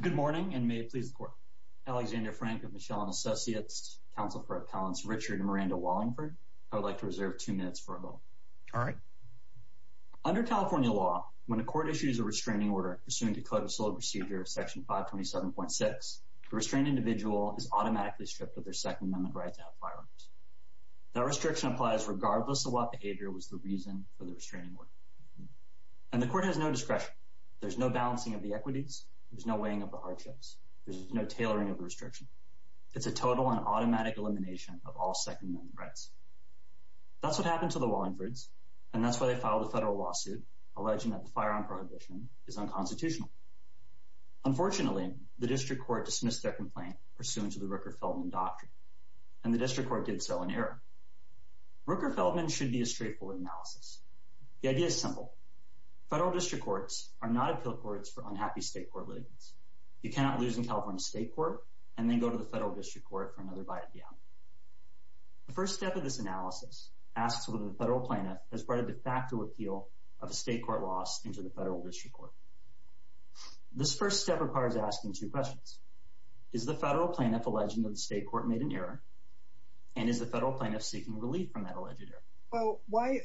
Good morning, and may it please the Court. Alexander Frank of Michel and Associates, Counsel for Appellants Richard and Miranda Wallingford. I would like to reserve two minutes for a moment. All right. Under California law, when a court issues a restraining order pursuant to Code of Civil Procedure Section 527.6, the restrained individual is automatically stripped of their Second Amendment right to have firearms. That restriction applies regardless of what behavior was the reason for the restraining order. And the court has no discretion. There's no balancing of the equities. There's no weighing of the hardships. There's no tailoring of the restriction. It's a total and automatic elimination of all Second Amendment rights. That's what happened to the Wallingfords, and that's why they filed a federal lawsuit alleging that the firearm prohibition is unconstitutional. Unfortunately, the district court dismissed their complaint pursuant to the Rooker-Feldman doctrine, and the district court did so in error. Rooker-Feldman should be a straightforward analysis. The idea is simple. Federal district courts are not appeal courts for unhappy state court litigants. You cannot lose in California state court and then go to the federal district court for another bite at the eye. The first step of this analysis asks whether the federal plaintiff has brought a de facto appeal of a state court loss into the federal district court. This first step requires asking two questions. Is the federal plaintiff alleging that the state court made an error, and is the federal plaintiff seeking relief from that alleged error? Well, why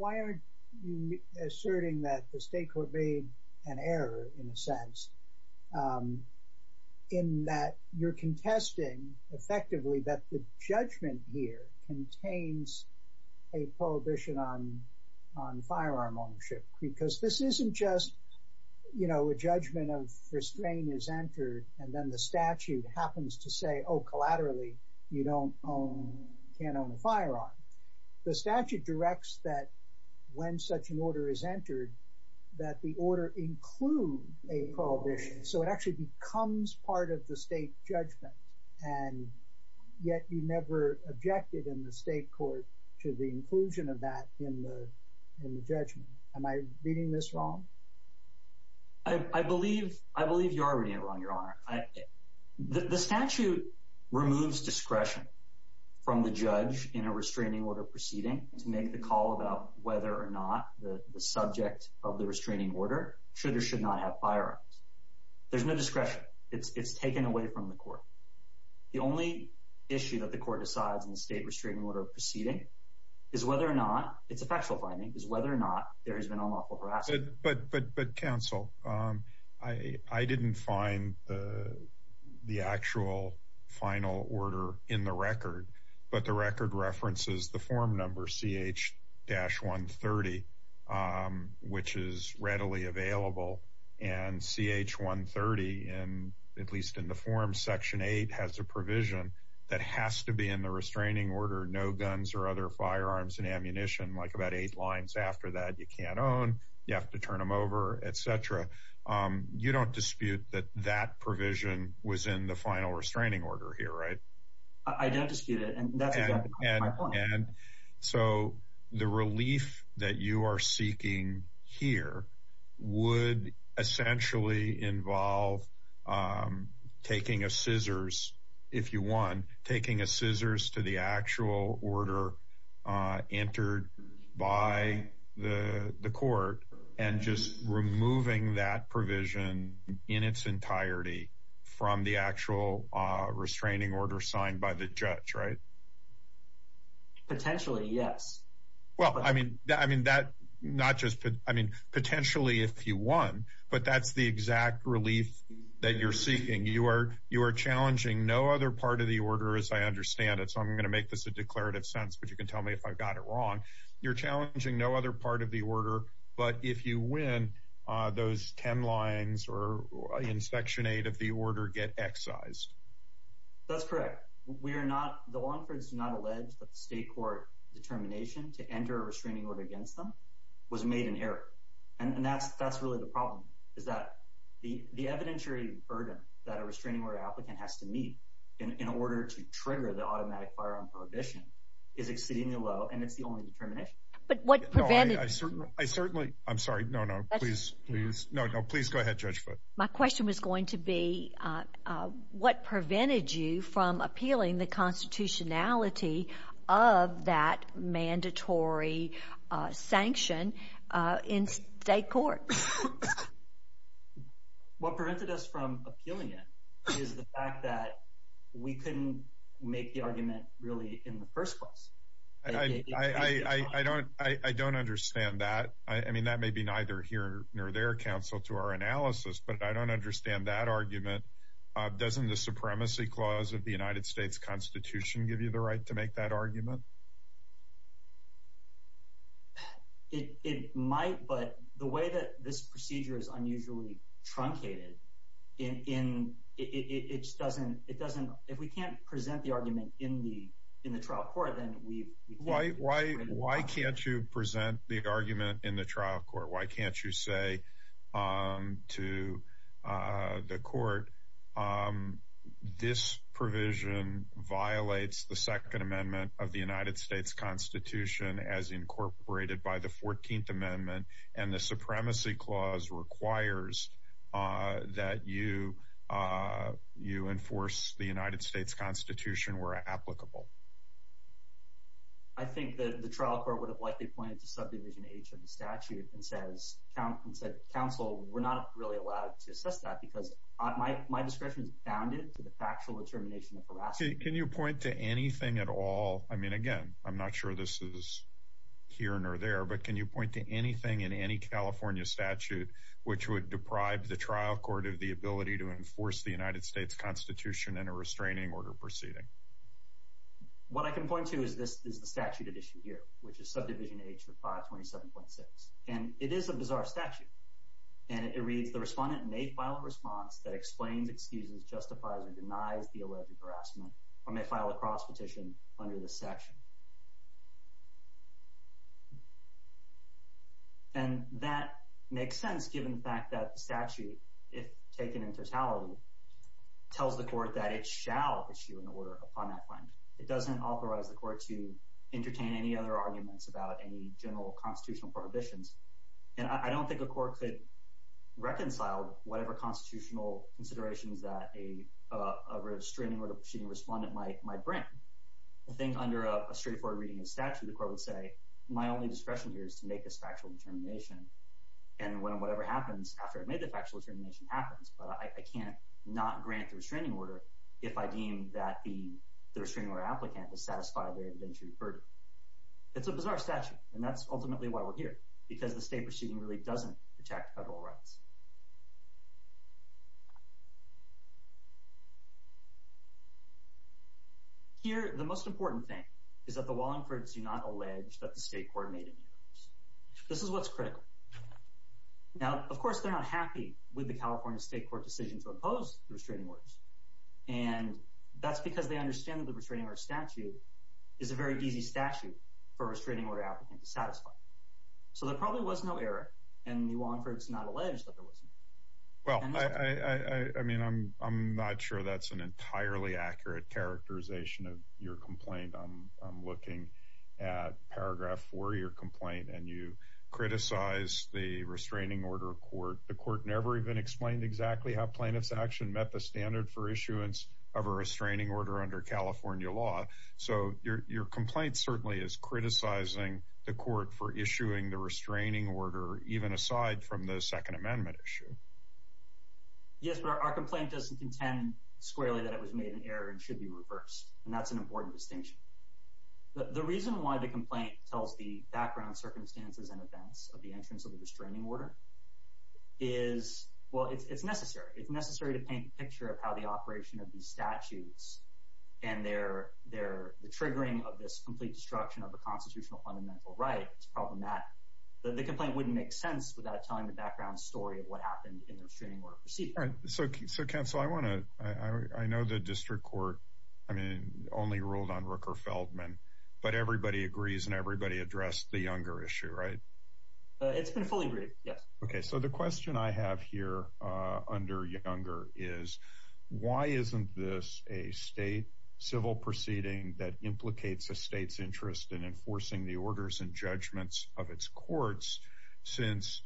aren't you asserting that the state court made an error, in a sense, in that you're contesting effectively that the judgment here contains a prohibition on firearm ownership? Because this isn't just, you know, a judgment of restraint is entered, and then the statute happens to say, oh, collaterally, you can't own a firearm. The statute directs that when such an order is entered, that the order include a prohibition. So it actually becomes part of the state judgment. And yet you never objected in the state court to the inclusion of that in the judgment. Am I reading this wrong? I believe you are reading it wrong, Your Honor. The statute removes discretion from the judge in a restraining order proceeding to make the call about whether or not the subject of the restraining order should or should not have firearms. There's no discretion. It's taken away from the court. The only issue that the court decides in the state restraining order proceeding is whether or not—it's a factual finding—is whether or not there has been unlawful harassment. But, counsel, I didn't find the actual final order in the record. But the record references the form number, CH-130, which is readily available. And CH-130, at least in the form, Section 8, has a provision that has to be in the restraining order, no guns or other firearms and ammunition. Like about eight lines after that, you can't own, you have to turn them over, etc. You don't dispute that that provision was in the final restraining order here, right? I don't dispute it, and that's exactly my point. And so the relief that you are seeking here would essentially involve taking a scissors, if you want, taking a scissors to the actual order entered by the court and just removing that provision in its entirety from the actual restraining order signed by the judge, right? Potentially, yes. Well, I mean, not just—I mean, potentially, if you won, but that's the exact relief that you're seeking. You are challenging no other part of the order, as I understand it, so I'm going to make this a declarative sentence, but you can tell me if I've got it wrong. You're challenging no other part of the order, but if you win, those 10 lines in Section 8 of the order get excised. That's correct. The Longfords do not allege that the state court determination to enter a restraining order against them was made in error, and that's really the problem, is that the evidentiary burden that a restraining order applicant has to meet in order to trigger the automatic firearm prohibition is exceedingly low, and it's the only determination. But what prevented— I certainly—I'm sorry, no, no, please, please, no, no, please go ahead, Judge Foote. My question was going to be, what prevented you from appealing the constitutionality of that mandatory sanction in state court? What prevented us from appealing it is the fact that we couldn't make the argument really in the first place. I don't understand that. I mean, that may be neither here nor there, counsel, to our analysis, but I don't understand that argument. Doesn't the supremacy clause of the United States Constitution give you the right to make that argument? It might, but the way that this procedure is unusually truncated in—it just doesn't—it doesn't—if we can't present the argument in the trial court, then we— Why can't you present the argument in the trial court? Why can't you say to the court, this provision violates the Second Amendment of the United States Constitution as incorporated by the Fourteenth Amendment, and the supremacy clause requires that you enforce the United States Constitution where applicable? I think the trial court would have likely pointed to subdivision H of the statute and said, counsel, we're not really allowed to assess that, because my discretion is bounded to the factual determination of harassment. Can you point to anything at all—I mean, again, I'm not sure this is here nor there, but can you point to anything in any California statute which would deprive the trial court of the ability to enforce the United States Constitution in a restraining order proceeding? What I can point to is the statute at issue here, which is subdivision H of 527.6, and it is a bizarre statute. And it reads, the respondent may file a response that explains, excuses, justifies, or denies the alleged harassment, or may file a cross petition under this section. And that makes sense given the fact that the statute, if taken in totality, tells the court that it shall issue an order upon that claim. It doesn't authorize the court to entertain any other arguments about any general constitutional prohibitions. And I don't think a court could reconcile whatever constitutional considerations that a restraining order proceeding respondent might bring. I think under a straightforward reading of the statute, the court would say, my only discretion here is to make this factual determination. And whatever happens after I've made the factual determination happens, but I can't not grant the restraining order if I deem that the restraining order applicant has satisfied their indentury purdue. It's a bizarre statute, and that's ultimately why we're here, because the state proceeding really doesn't protect federal rights. Here, the most important thing is that the law enforcement do not allege that the state court made any errors. This is what's critical. Now, of course, they're not happy with the California state court decision to oppose the restraining orders, and that's because they understand that the restraining order statute is a very easy statute for a restraining order applicant to satisfy. So there probably was no error, and the law enforcement's not alleged that there wasn't. Well, I mean, I'm not sure that's an entirely accurate characterization of your complaint. I'm looking at paragraph 4 of your complaint, and you criticize the restraining order court. The court never even explained exactly how plaintiff's action met the standard for issuance of a restraining order under California law. So your complaint certainly is criticizing the court for issuing the restraining order, even aside from the Second Amendment issue. Yes, but our complaint doesn't contend squarely that it was made an error and should be reversed, and that's an important distinction. The reason why the complaint tells the background circumstances and events of the entrance of the restraining order is, well, it's necessary. It's necessary to paint a picture of how the operation of these statutes and the triggering of this complete destruction of a constitutional fundamental right is problematic. The complaint wouldn't make sense without telling the background story of what happened in the restraining order proceedings. All right. So, Counsel, I know the district court only ruled on Rooker-Feldman, but everybody agrees and everybody addressed the Younger issue, right? It's been fully agreed, yes. Okay, so the question I have here under Younger is, why isn't this a state civil proceeding that implicates a state's interest in enforcing the orders and judgments of its courts, since,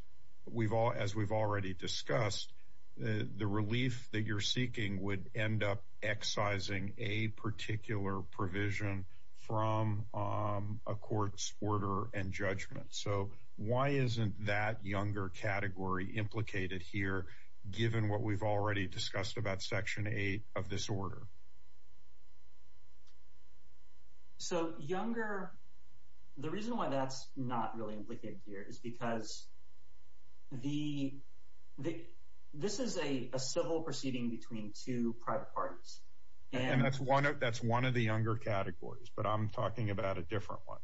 as we've already discussed, the relief that you're seeking would end up excising a particular provision from a court's order and judgment? So why isn't that Younger category implicated here, given what we've already discussed about Section 8 of this order? So Younger, the reason why that's not really implicated here is because this is a civil proceeding between two private parties. And that's one of the Younger categories, but I'm talking about a different one.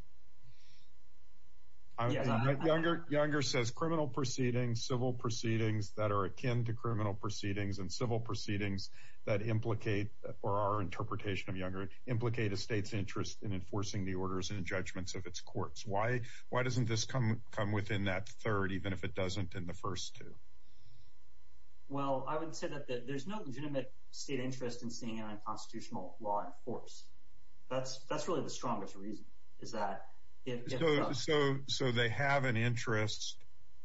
Younger says criminal proceedings, civil proceedings that are akin to criminal proceedings, and civil proceedings that implicate, or our interpretation of Younger, implicate a state's interest in enforcing the orders and judgments of its courts. Why doesn't this come within that third, even if it doesn't in the first two? Well, I would say that there's no legitimate state interest in seeing an unconstitutional law enforced. That's really the strongest reason, is that it does. So they have an interest,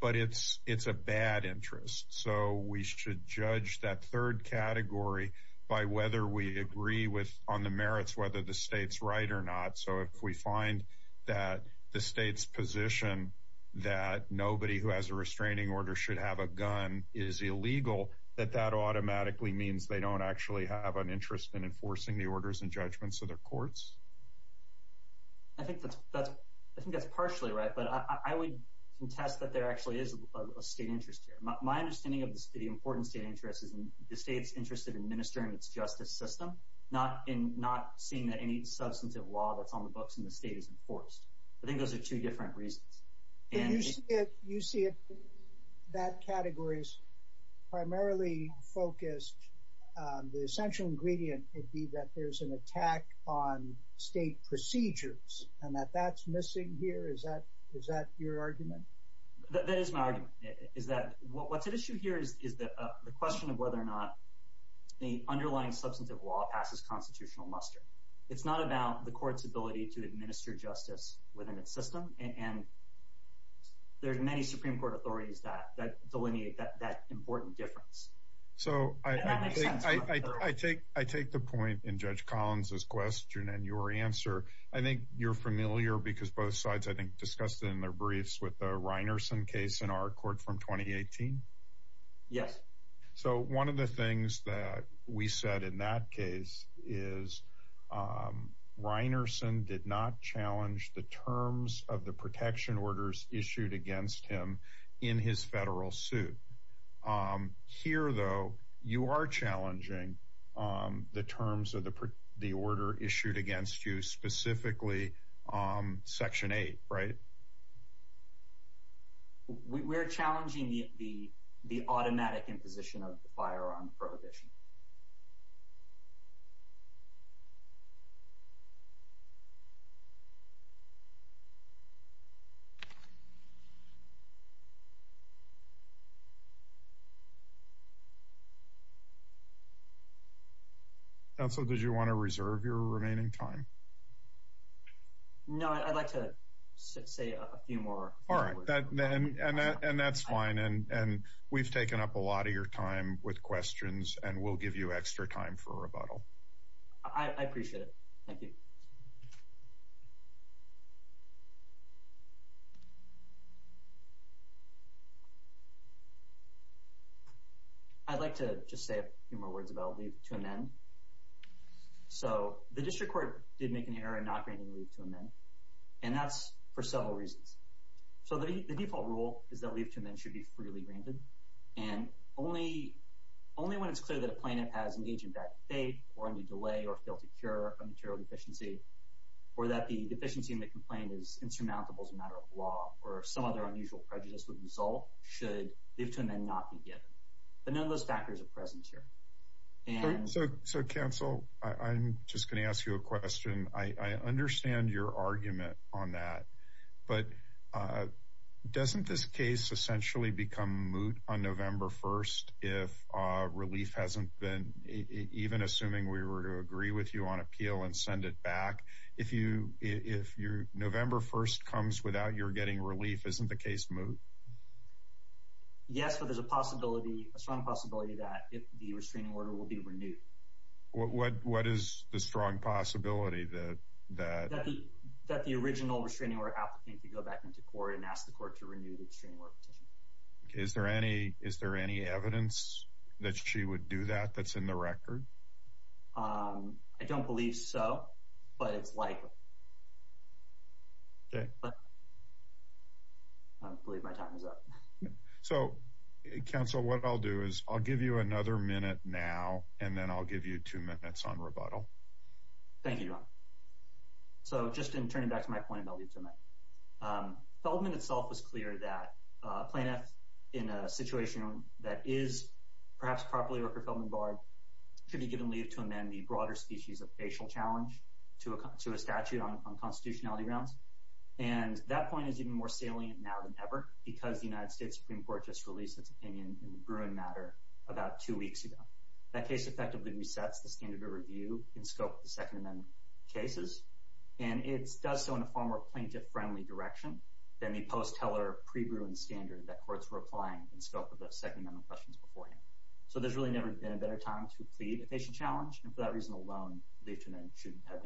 but it's a bad interest. So we should judge that third category by whether we agree on the merits, whether the state's right or not. So if we find that the state's position that nobody who has a restraining order should have a gun is illegal, that that automatically means they don't actually have an interest in enforcing the orders and judgments of their courts? I think that's partially right, but I would contest that there actually is a state interest here. My understanding of the important state interest is the state's interest in administering its justice system, not seeing that any substantive law that's on the books in the state is enforced. I think those are two different reasons. You see it in that category as primarily focused. The essential ingredient would be that there's an attack on state procedures and that that's missing here. Is that your argument? That is my argument, is that what's at issue here is the question of whether or not the underlying substantive law passes constitutional muster. It's not about the court's ability to administer justice within its system. And there's many Supreme Court authorities that delineate that important difference. So I think I take I take the point in Judge Collins's question and your answer. I think you're familiar because both sides, I think, discussed in their briefs with the Reinerson case in our court from twenty eighteen. Yes. So one of the things that we said in that case is Reinerson did not challenge the terms of the protection orders issued against him in his federal suit. Here, though, you are challenging the terms of the the order issued against you specifically section eight. Right. We're challenging the the automatic imposition of the firearm prohibition. So did you want to reserve your remaining time? No, I'd like to say a few more. All right. And that's fine. And we've taken up a lot of your time with questions and we'll give you extra time for a rebuttal. I appreciate it. Thank you. I'd like to just say a few more words about to amend. So the district court did make an error in not granting leave to amend. And that's for several reasons. So the default rule is that leave to amend should be freely granted. And only only when it's clear that a plaintiff has engaged in bad faith or any delay or fail to cure a material deficiency or that the deficiency in the complaint is insurmountable as a matter of law or some other unusual prejudice would result should leave to amend not be given. But none of those factors are present here. So. So, counsel, I'm just going to ask you a question. I understand your argument on that. But doesn't this case essentially become moot on November 1st if relief hasn't been even assuming we were to agree with you on appeal and send it back? If you if you're November 1st comes without your getting relief, isn't the case moot? Yes, but there's a possibility, a strong possibility that the restraining order will be renewed. What what what is the strong possibility that that that the original restraining order applicant to go back into court and ask the court to renew the restraining order petition? Is there any is there any evidence that she would do that? That's in the record. I don't believe so. But it's like. I believe my time is up. So, counsel, what I'll do is I'll give you another minute now and then I'll give you two minutes on rebuttal. Thank you. So just in turning back to my point, I'll get to it. Feldman itself was clear that plaintiffs in a situation that is perhaps properly or profoundly barred could be given leave to amend the broader species of facial challenge to a to a statute on constitutionality grounds. And that point is even more salient now than ever, because the United States Supreme Court just released its opinion in the Bruin matter about two weeks ago. That case effectively resets the standard of review in scope of the Second Amendment cases. And it does so in a far more plaintiff friendly direction than the post teller pre Bruin standard that courts were applying in scope of the Second Amendment questions before. So there's really never been a better time to plead a patient challenge. And for that reason alone, they shouldn't have.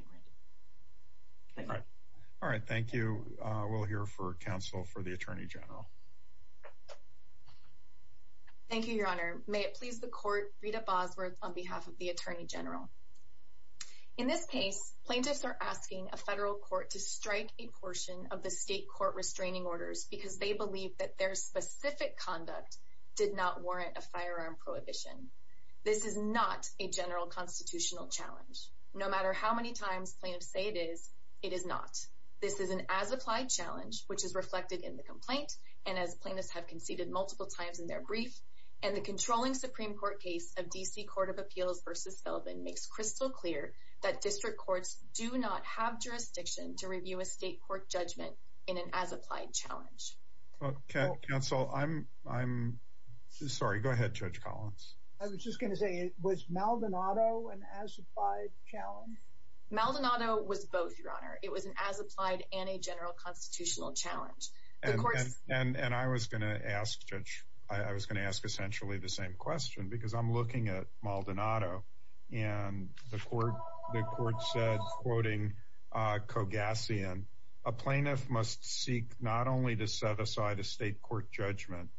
All right. Thank you. We'll hear for counsel for the attorney general. Thank you, Your Honor. May it please the court. Rita Bosworth on behalf of the attorney general. In this case, plaintiffs are asking a federal court to strike a portion of the state court restraining orders because they believe that their specific conduct did not warrant a firearm prohibition. This is not a general constitutional challenge. No matter how many times plaintiffs say it is, it is not. This is an as applied challenge, which is reflected in the complaint. And as plaintiffs have conceded multiple times in their brief and the controlling Supreme Court case of D.C. Court of Appeals versus Sullivan makes crystal clear that district courts do not have jurisdiction to review a state court judgment in an as applied challenge. Counsel, I'm I'm sorry. Go ahead. Judge Collins. I was just going to say it was Maldonado and as applied challenge. Maldonado was both. Your Honor, it was an as applied and a general constitutional challenge. And I was going to ask, Judge, I was going to ask essentially the same question because I'm looking at Maldonado and the court. The court said, quoting Kogassian, a plaintiff must seek not only to set aside a state court judgment.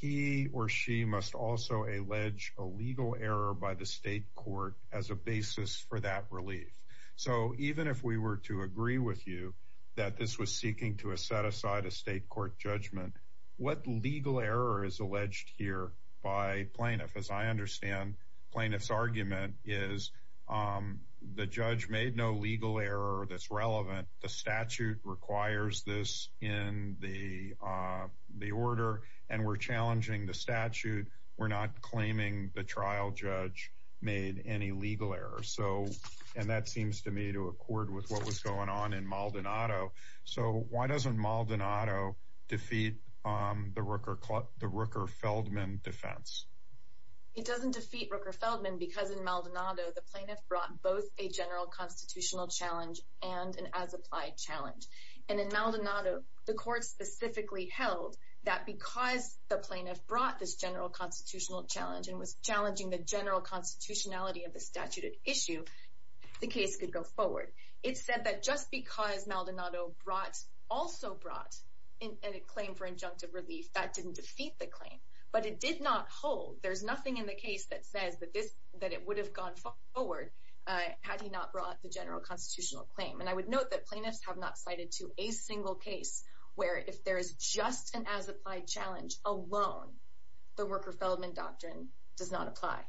He or she must also allege a legal error by the state court as a basis for that relief. So even if we were to agree with you that this was seeking to set aside a state court judgment, what legal error is alleged here by plaintiff? As I understand, plaintiff's argument is the judge made no legal error that's relevant. The statute requires this in the the order. And we're challenging the statute. We're not claiming the trial judge made any legal error. So and that seems to me to accord with what was going on in Maldonado. So why doesn't Maldonado defeat the Rooker the Rooker Feldman defense? It doesn't defeat Rooker Feldman because in Maldonado, the plaintiff brought both a general constitutional challenge and an as applied challenge. And in Maldonado, the court specifically held that because the plaintiff brought this general constitutional challenge and was challenging the general constitutionality of the statute issue, the case could go forward. It said that just because Maldonado brought also brought in a claim for injunctive relief, that didn't defeat the claim. But it did not hold. There's nothing in the case that says that this that it would have gone forward had he not brought the general constitutional claim. And I would note that plaintiffs have not cited to a single case where if there is just an as applied challenge alone, the Rooker Feldman doctrine does not apply.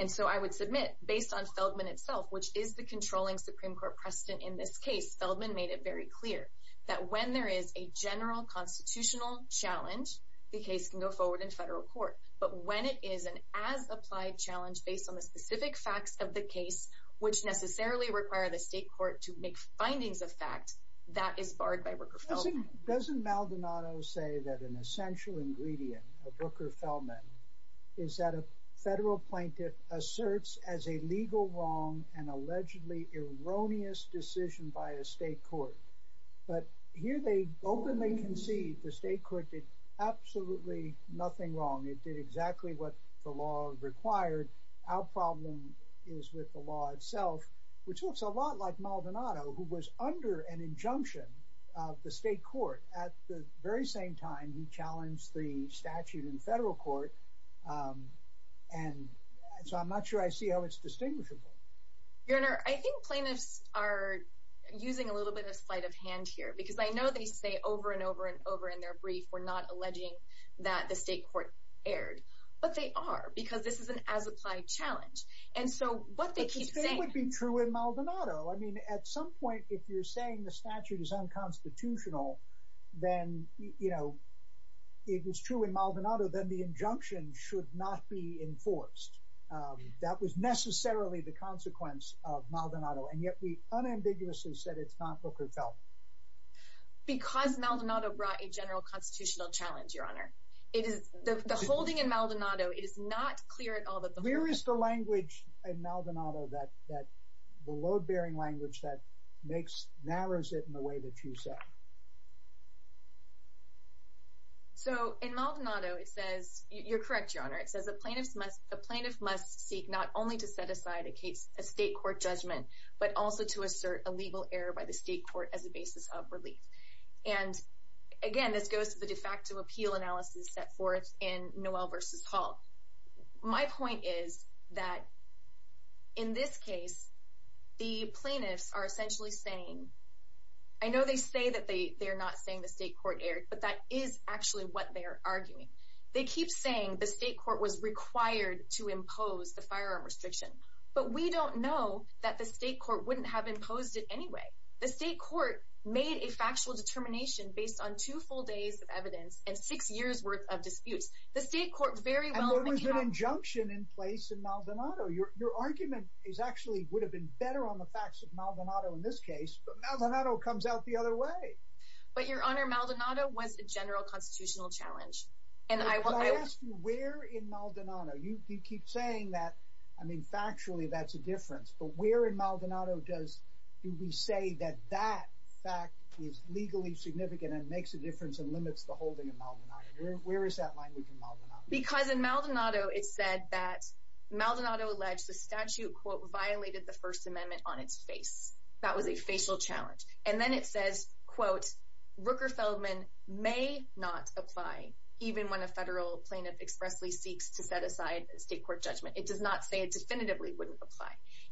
And so I would submit based on Feldman itself, which is the controlling Supreme Court precedent in this case, Feldman made it very clear that when there is a general constitutional challenge, the case can go forward in federal court. But when it is an as applied challenge based on the specific facts of the case, which necessarily require the state court to make findings of fact, that is barred by Rooker Feldman. Doesn't Maldonado say that an essential ingredient of Rooker Feldman is that a federal plaintiff asserts as a legal wrong and allegedly erroneous decision by a state court. But here they openly concede the state court did absolutely nothing wrong. It did exactly what the law required. Our problem is with the law itself, which looks a lot like Maldonado, who was under an injunction of the state court. At the very same time, he challenged the statute in federal court. And so I'm not sure I see how it's distinguishable. Your Honor, I think plaintiffs are using a little bit of sleight of hand here because I know they say over and over and over in their brief, we're not alleging that the state court erred. But they are because this is an as applied challenge. And so what they keep saying would be true in Maldonado. I mean, at some point, if you're saying the statute is unconstitutional, then, you know, it was true in Maldonado, then the injunction should not be enforced. That was necessarily the consequence of Maldonado. And yet we unambiguously said it's not Booker Telman. Because Maldonado brought a general constitutional challenge, Your Honor. The holding in Maldonado is not clear at all. Where is the language in Maldonado that the load-bearing language that narrows it in the way that you say? So in Maldonado, it says, you're correct, Your Honor. It says a plaintiff must seek not only to set aside a state court judgment, but also to assert a legal error by the state court as a basis of relief. And again, this goes to the de facto appeal analysis set forth in Noel versus Hall. My point is that in this case, the plaintiffs are essentially saying, I know they say that they're not saying the state court erred, but that is actually what they're arguing. They keep saying the state court was required to impose the firearm restriction. But we don't know that the state court wouldn't have imposed it anyway. The state court made a factual determination based on two full days of evidence and six years' worth of disputes. The state court very well may have— And there was an injunction in place in Maldonado. Your argument actually would have been better on the facts of Maldonado in this case. But Maldonado comes out the other way. But, Your Honor, Maldonado was a general constitutional challenge. But I ask you, where in Maldonado? You keep saying that. I mean, factually, that's a difference. But where in Maldonado do we say that that fact is legally significant and makes a difference and limits the holding in Maldonado? Where is that language in Maldonado? Because in Maldonado it said that Maldonado alleged the statute, quote, violated the First Amendment on its face. That was a facial challenge. And then it says, quote, Rooker Feldman may not apply even when a federal plaintiff expressly seeks to set aside a state court judgment. It does not say it definitively wouldn't apply.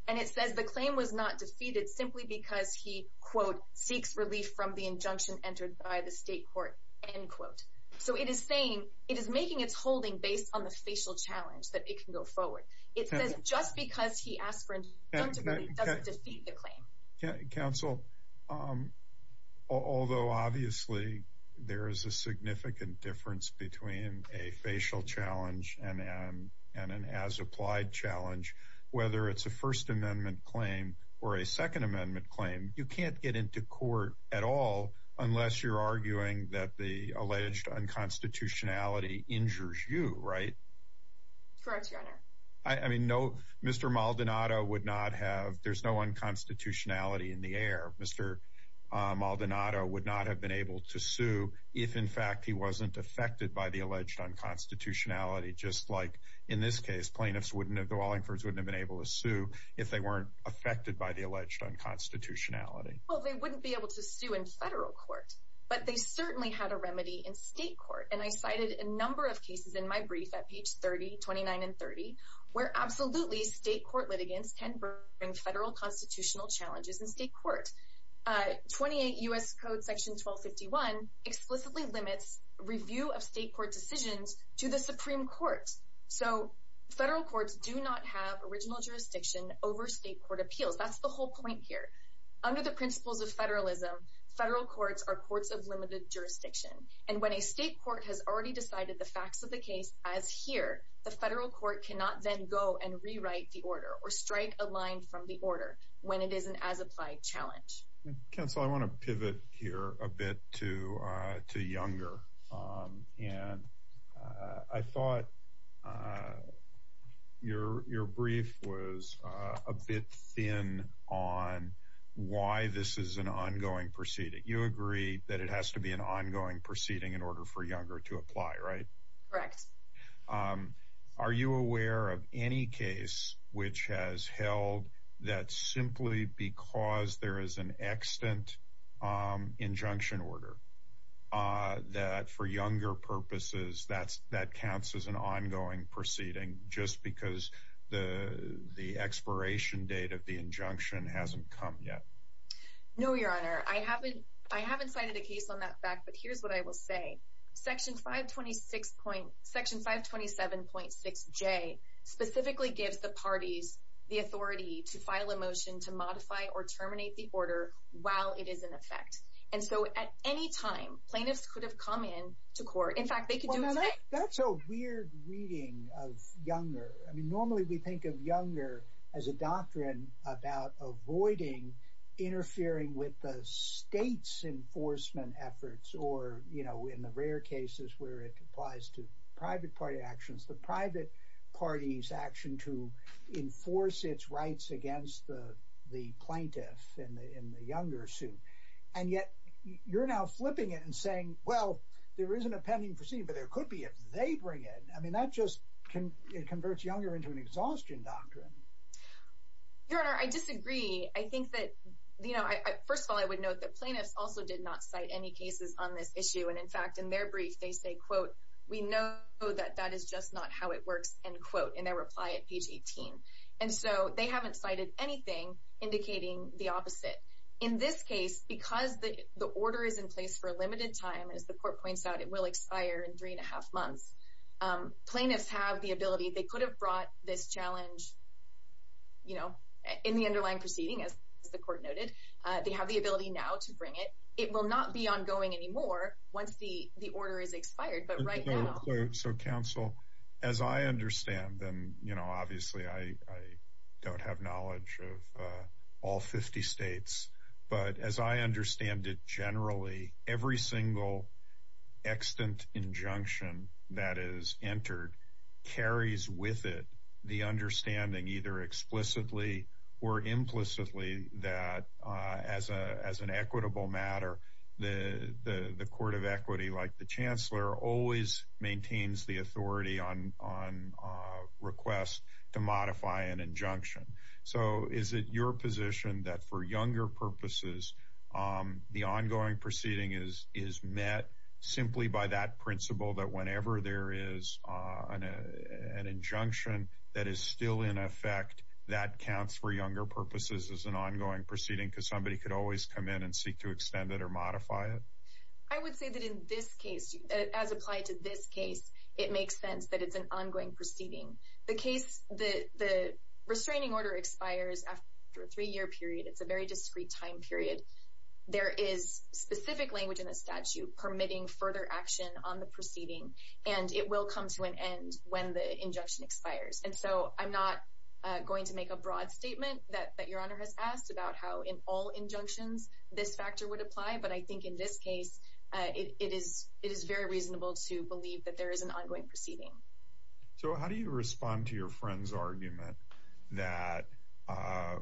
And it says the claim was not defeated simply because he, quote, seeks relief from the injunction entered by the state court, end quote. So it is saying it is making its holding based on the facial challenge that it can go forward. It says just because he asked for an injunction doesn't defeat the claim. Counsel, although obviously there is a significant difference between a facial challenge and an as-applied challenge, whether it's a First Amendment claim or a Second Amendment claim, you can't get into court at all unless you're arguing that the alleged unconstitutionality injures you, right? Correct, Your Honor. I mean, no, Mr. Maldonado would not have. There's no unconstitutionality in the air. Mr. Maldonado would not have been able to sue if, in fact, he wasn't affected by the alleged unconstitutionality, just like, in this case, plaintiffs wouldn't have been able to sue if they weren't affected by the alleged unconstitutionality. Well, they wouldn't be able to sue in federal court, but they certainly had a remedy in state court. And I cited a number of cases in my brief at page 30, 29, and 30, where absolutely state court litigants can bring federal constitutional challenges in state court. 28 U.S. Code Section 1251 explicitly limits review of state court decisions to the Supreme Court. So federal courts do not have original jurisdiction over state court appeals. That's the whole point here. Under the principles of federalism, federal courts are courts of limited jurisdiction. And when a state court has already decided the facts of the case as here, the federal court cannot then go and rewrite the order or strike a line from the order when it is an as-applied challenge. Counsel, I want to pivot here a bit to Younger. And I thought your brief was a bit thin on why this is an ongoing proceeding. You agree that it has to be an ongoing proceeding in order for Younger to apply, right? Correct. Are you aware of any case which has held that simply because there is an extant injunction order, that for Younger purposes that counts as an ongoing proceeding just because the expiration date of the injunction hasn't come yet? No, Your Honor. I haven't cited a case on that fact, but here's what I will say. Section 527.6J specifically gives the parties the authority to file a motion to modify or terminate the order while it is in effect. And so at any time, plaintiffs could have come in to court. In fact, they could do the same. That's a weird reading of Younger. where it applies to private party actions, the private party's action to enforce its rights against the plaintiff in the Younger suit. And yet, you're now flipping it and saying, well, there isn't a pending proceeding, but there could be if they bring it. I mean, that just converts Younger into an exhaustion doctrine. Your Honor, I disagree. I think that, you know, first of all, I would note that plaintiffs also did not cite any cases on this issue. And in fact, in their brief, they say, quote, we know that that is just not how it works, end quote, in their reply at page 18. And so they haven't cited anything indicating the opposite. In this case, because the order is in place for a limited time, as the court points out, it will expire in three and a half months. Plaintiffs have the ability. They could have brought this challenge. You know, in the underlying proceeding, as the court noted, they have the ability now to bring it. It will not be ongoing anymore once the order is expired. But right now. So, counsel, as I understand them, you know, obviously, I don't have knowledge of all 50 states. But as I understand it, generally, every single extant injunction that is entered carries with it the understanding, either explicitly or implicitly, that as an equitable matter, the Court of Equity, like the Chancellor, always maintains the authority on request to modify an injunction. So is it your position that for younger purposes, the ongoing proceeding is met simply by that principle that whenever there is an injunction that is still in effect, that counts for younger purposes as an ongoing proceeding because somebody could always come in and seek to extend it or modify it? I would say that in this case, as applied to this case, it makes sense that it's an ongoing proceeding. The case, the restraining order expires after a three-year period. It's a very discrete time period. There is specific language in the statute permitting further action on the proceeding. And it will come to an end when the injunction expires. And so I'm not going to make a broad statement that Your Honor has asked about how in all injunctions this factor would apply. But I think in this case, it is very reasonable to believe that there is an ongoing proceeding. So how do you respond to your friend's argument that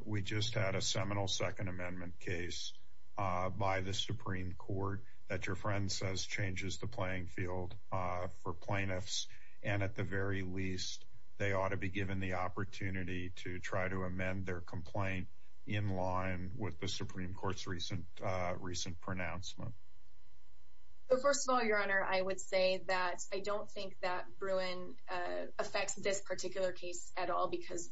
we just had a seminal Second Amendment case by the Supreme Court that your friend says changes the playing field for plaintiffs? And at the very least, they ought to be given the opportunity to try to amend their complaint in line with the Supreme Court's recent pronouncement. First of all, Your Honor, I would say that I don't think that Bruin affects this particular case at all because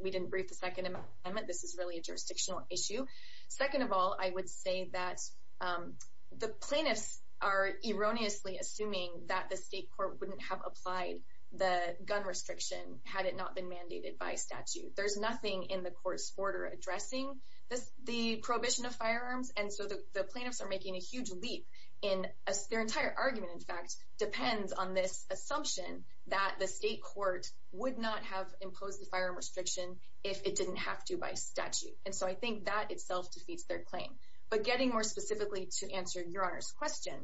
we didn't brief the Second Amendment. This is really a jurisdictional issue. Second of all, I would say that the plaintiffs are erroneously assuming that the state court wouldn't have applied the gun restriction had it not been mandated by statute. There's nothing in the court's order addressing the prohibition of firearms. And so the plaintiffs are making a huge leap in their entire argument, in fact, depends on this assumption that the state court would not have imposed the firearm restriction if it didn't have to by statute. And so I think that itself defeats their claim. But getting more specifically to answer Your Honor's question,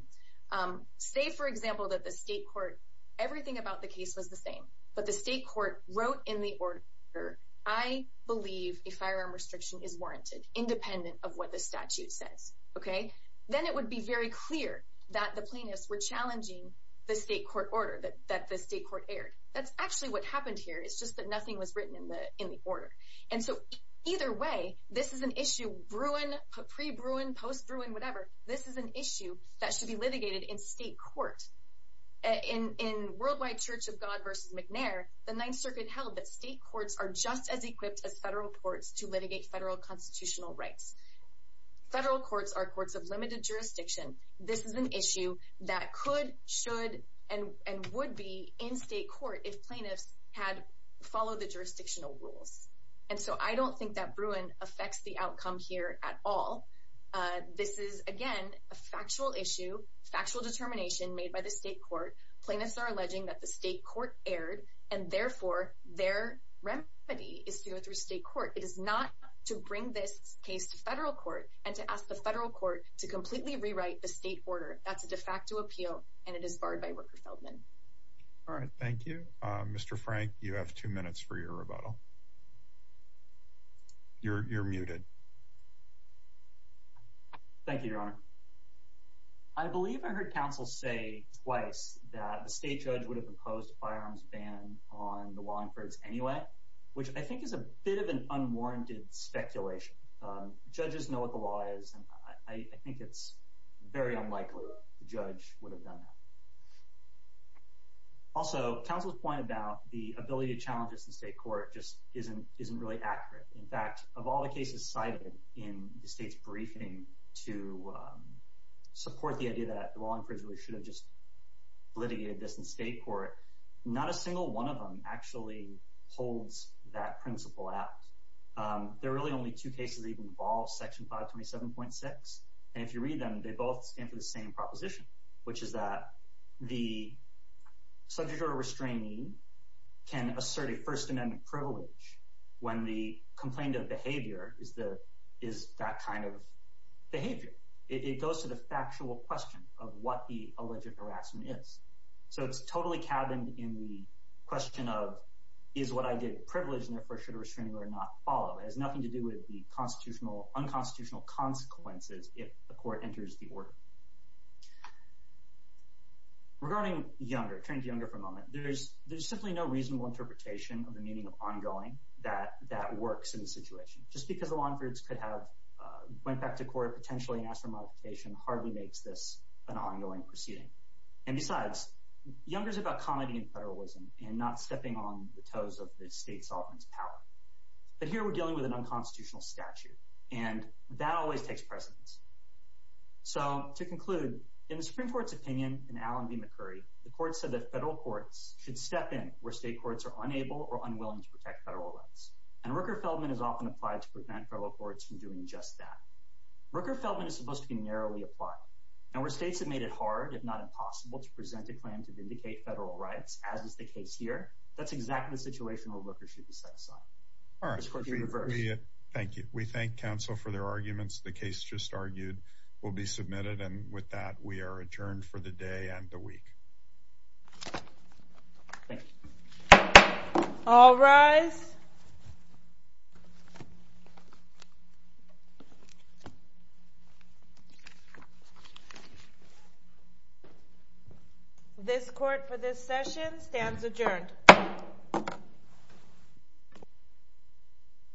say, for example, that the state court, everything about the case was the same. But the state court wrote in the order, I believe a firearm restriction is warranted, independent of what the statute says. Then it would be very clear that the plaintiffs were challenging the state court order that the state court aired. That's actually what happened here. It's just that nothing was written in the order. And so either way, this is an issue, Bruin, pre-Bruin, post-Bruin, whatever, this is an issue that should be litigated in state court. In Worldwide Church of God v. McNair, the Ninth Circuit held that state courts are just as equipped as federal courts to litigate federal constitutional rights. Federal courts are courts of limited jurisdiction. This is an issue that could, should, and would be in state court if plaintiffs had followed the jurisdictional rules. And so I don't think that Bruin affects the outcome here at all. This is, again, a factual issue, factual determination made by the state court. Plaintiffs are alleging that the state court aired, and therefore, their remedy is to go through state court. It is not to bring this case to federal court and to ask the federal court to completely rewrite the state order. That's a de facto appeal, and it is barred by Rooker-Feldman. All right, thank you. Mr. Frank, you have two minutes for your rebuttal. You're muted. Thank you, Your Honor. I believe I heard counsel say twice that the state judge would have imposed a firearms ban on the Wallingfords anyway, which I think is a bit of an unwarranted speculation. Judges know what the law is, and I think it's very unlikely the judge would have done that. Also, counsel's point about the ability to challenge this in state court just isn't really accurate. In fact, of all the cases cited in the state's briefing to support the idea that the Wallingfords really should have just litigated this in state court, not a single one of them actually holds that principle out. There are really only two cases that even involve Section 527.6, and if you read them, they both stand for the same proposition, which is that the subject or restrainee can assert a First Amendment privilege when the complaint of behavior is that kind of behavior. It goes to the factual question of what the alleged harassment is. So it's totally cabined in the question of is what I did a privilege and therefore should a restraining order not follow. It has nothing to do with the unconstitutional consequences if the court enters the order. Regarding Younger, turning to Younger for a moment, there's simply no reasonable interpretation of the meaning of ongoing that works in this situation. Just because the Wallingfords could have went back to court potentially and asked for a modification hardly makes this an ongoing proceeding. And besides, Younger's about comedy and federalism and not stepping on the toes of the state sovereign's power. But here we're dealing with an unconstitutional statute, and that always takes precedence. So to conclude, in the Supreme Court's opinion in Allen v. McCurry, the court said that federal courts should step in where state courts are unable or unwilling to protect federal rights. And Rooker-Feldman is often applied to prevent federal courts from doing just that. Rooker-Feldman is supposed to be narrowly applied, and where states have made it hard, if not impossible, to present a claim to vindicate federal rights, as is the case here, that's exactly the situation where Rooker should be set aside. All right. Thank you. We thank counsel for their arguments. The case just argued will be submitted. And with that, we are adjourned for the day and the week. All rise. This court for this session stands adjourned. Thank you.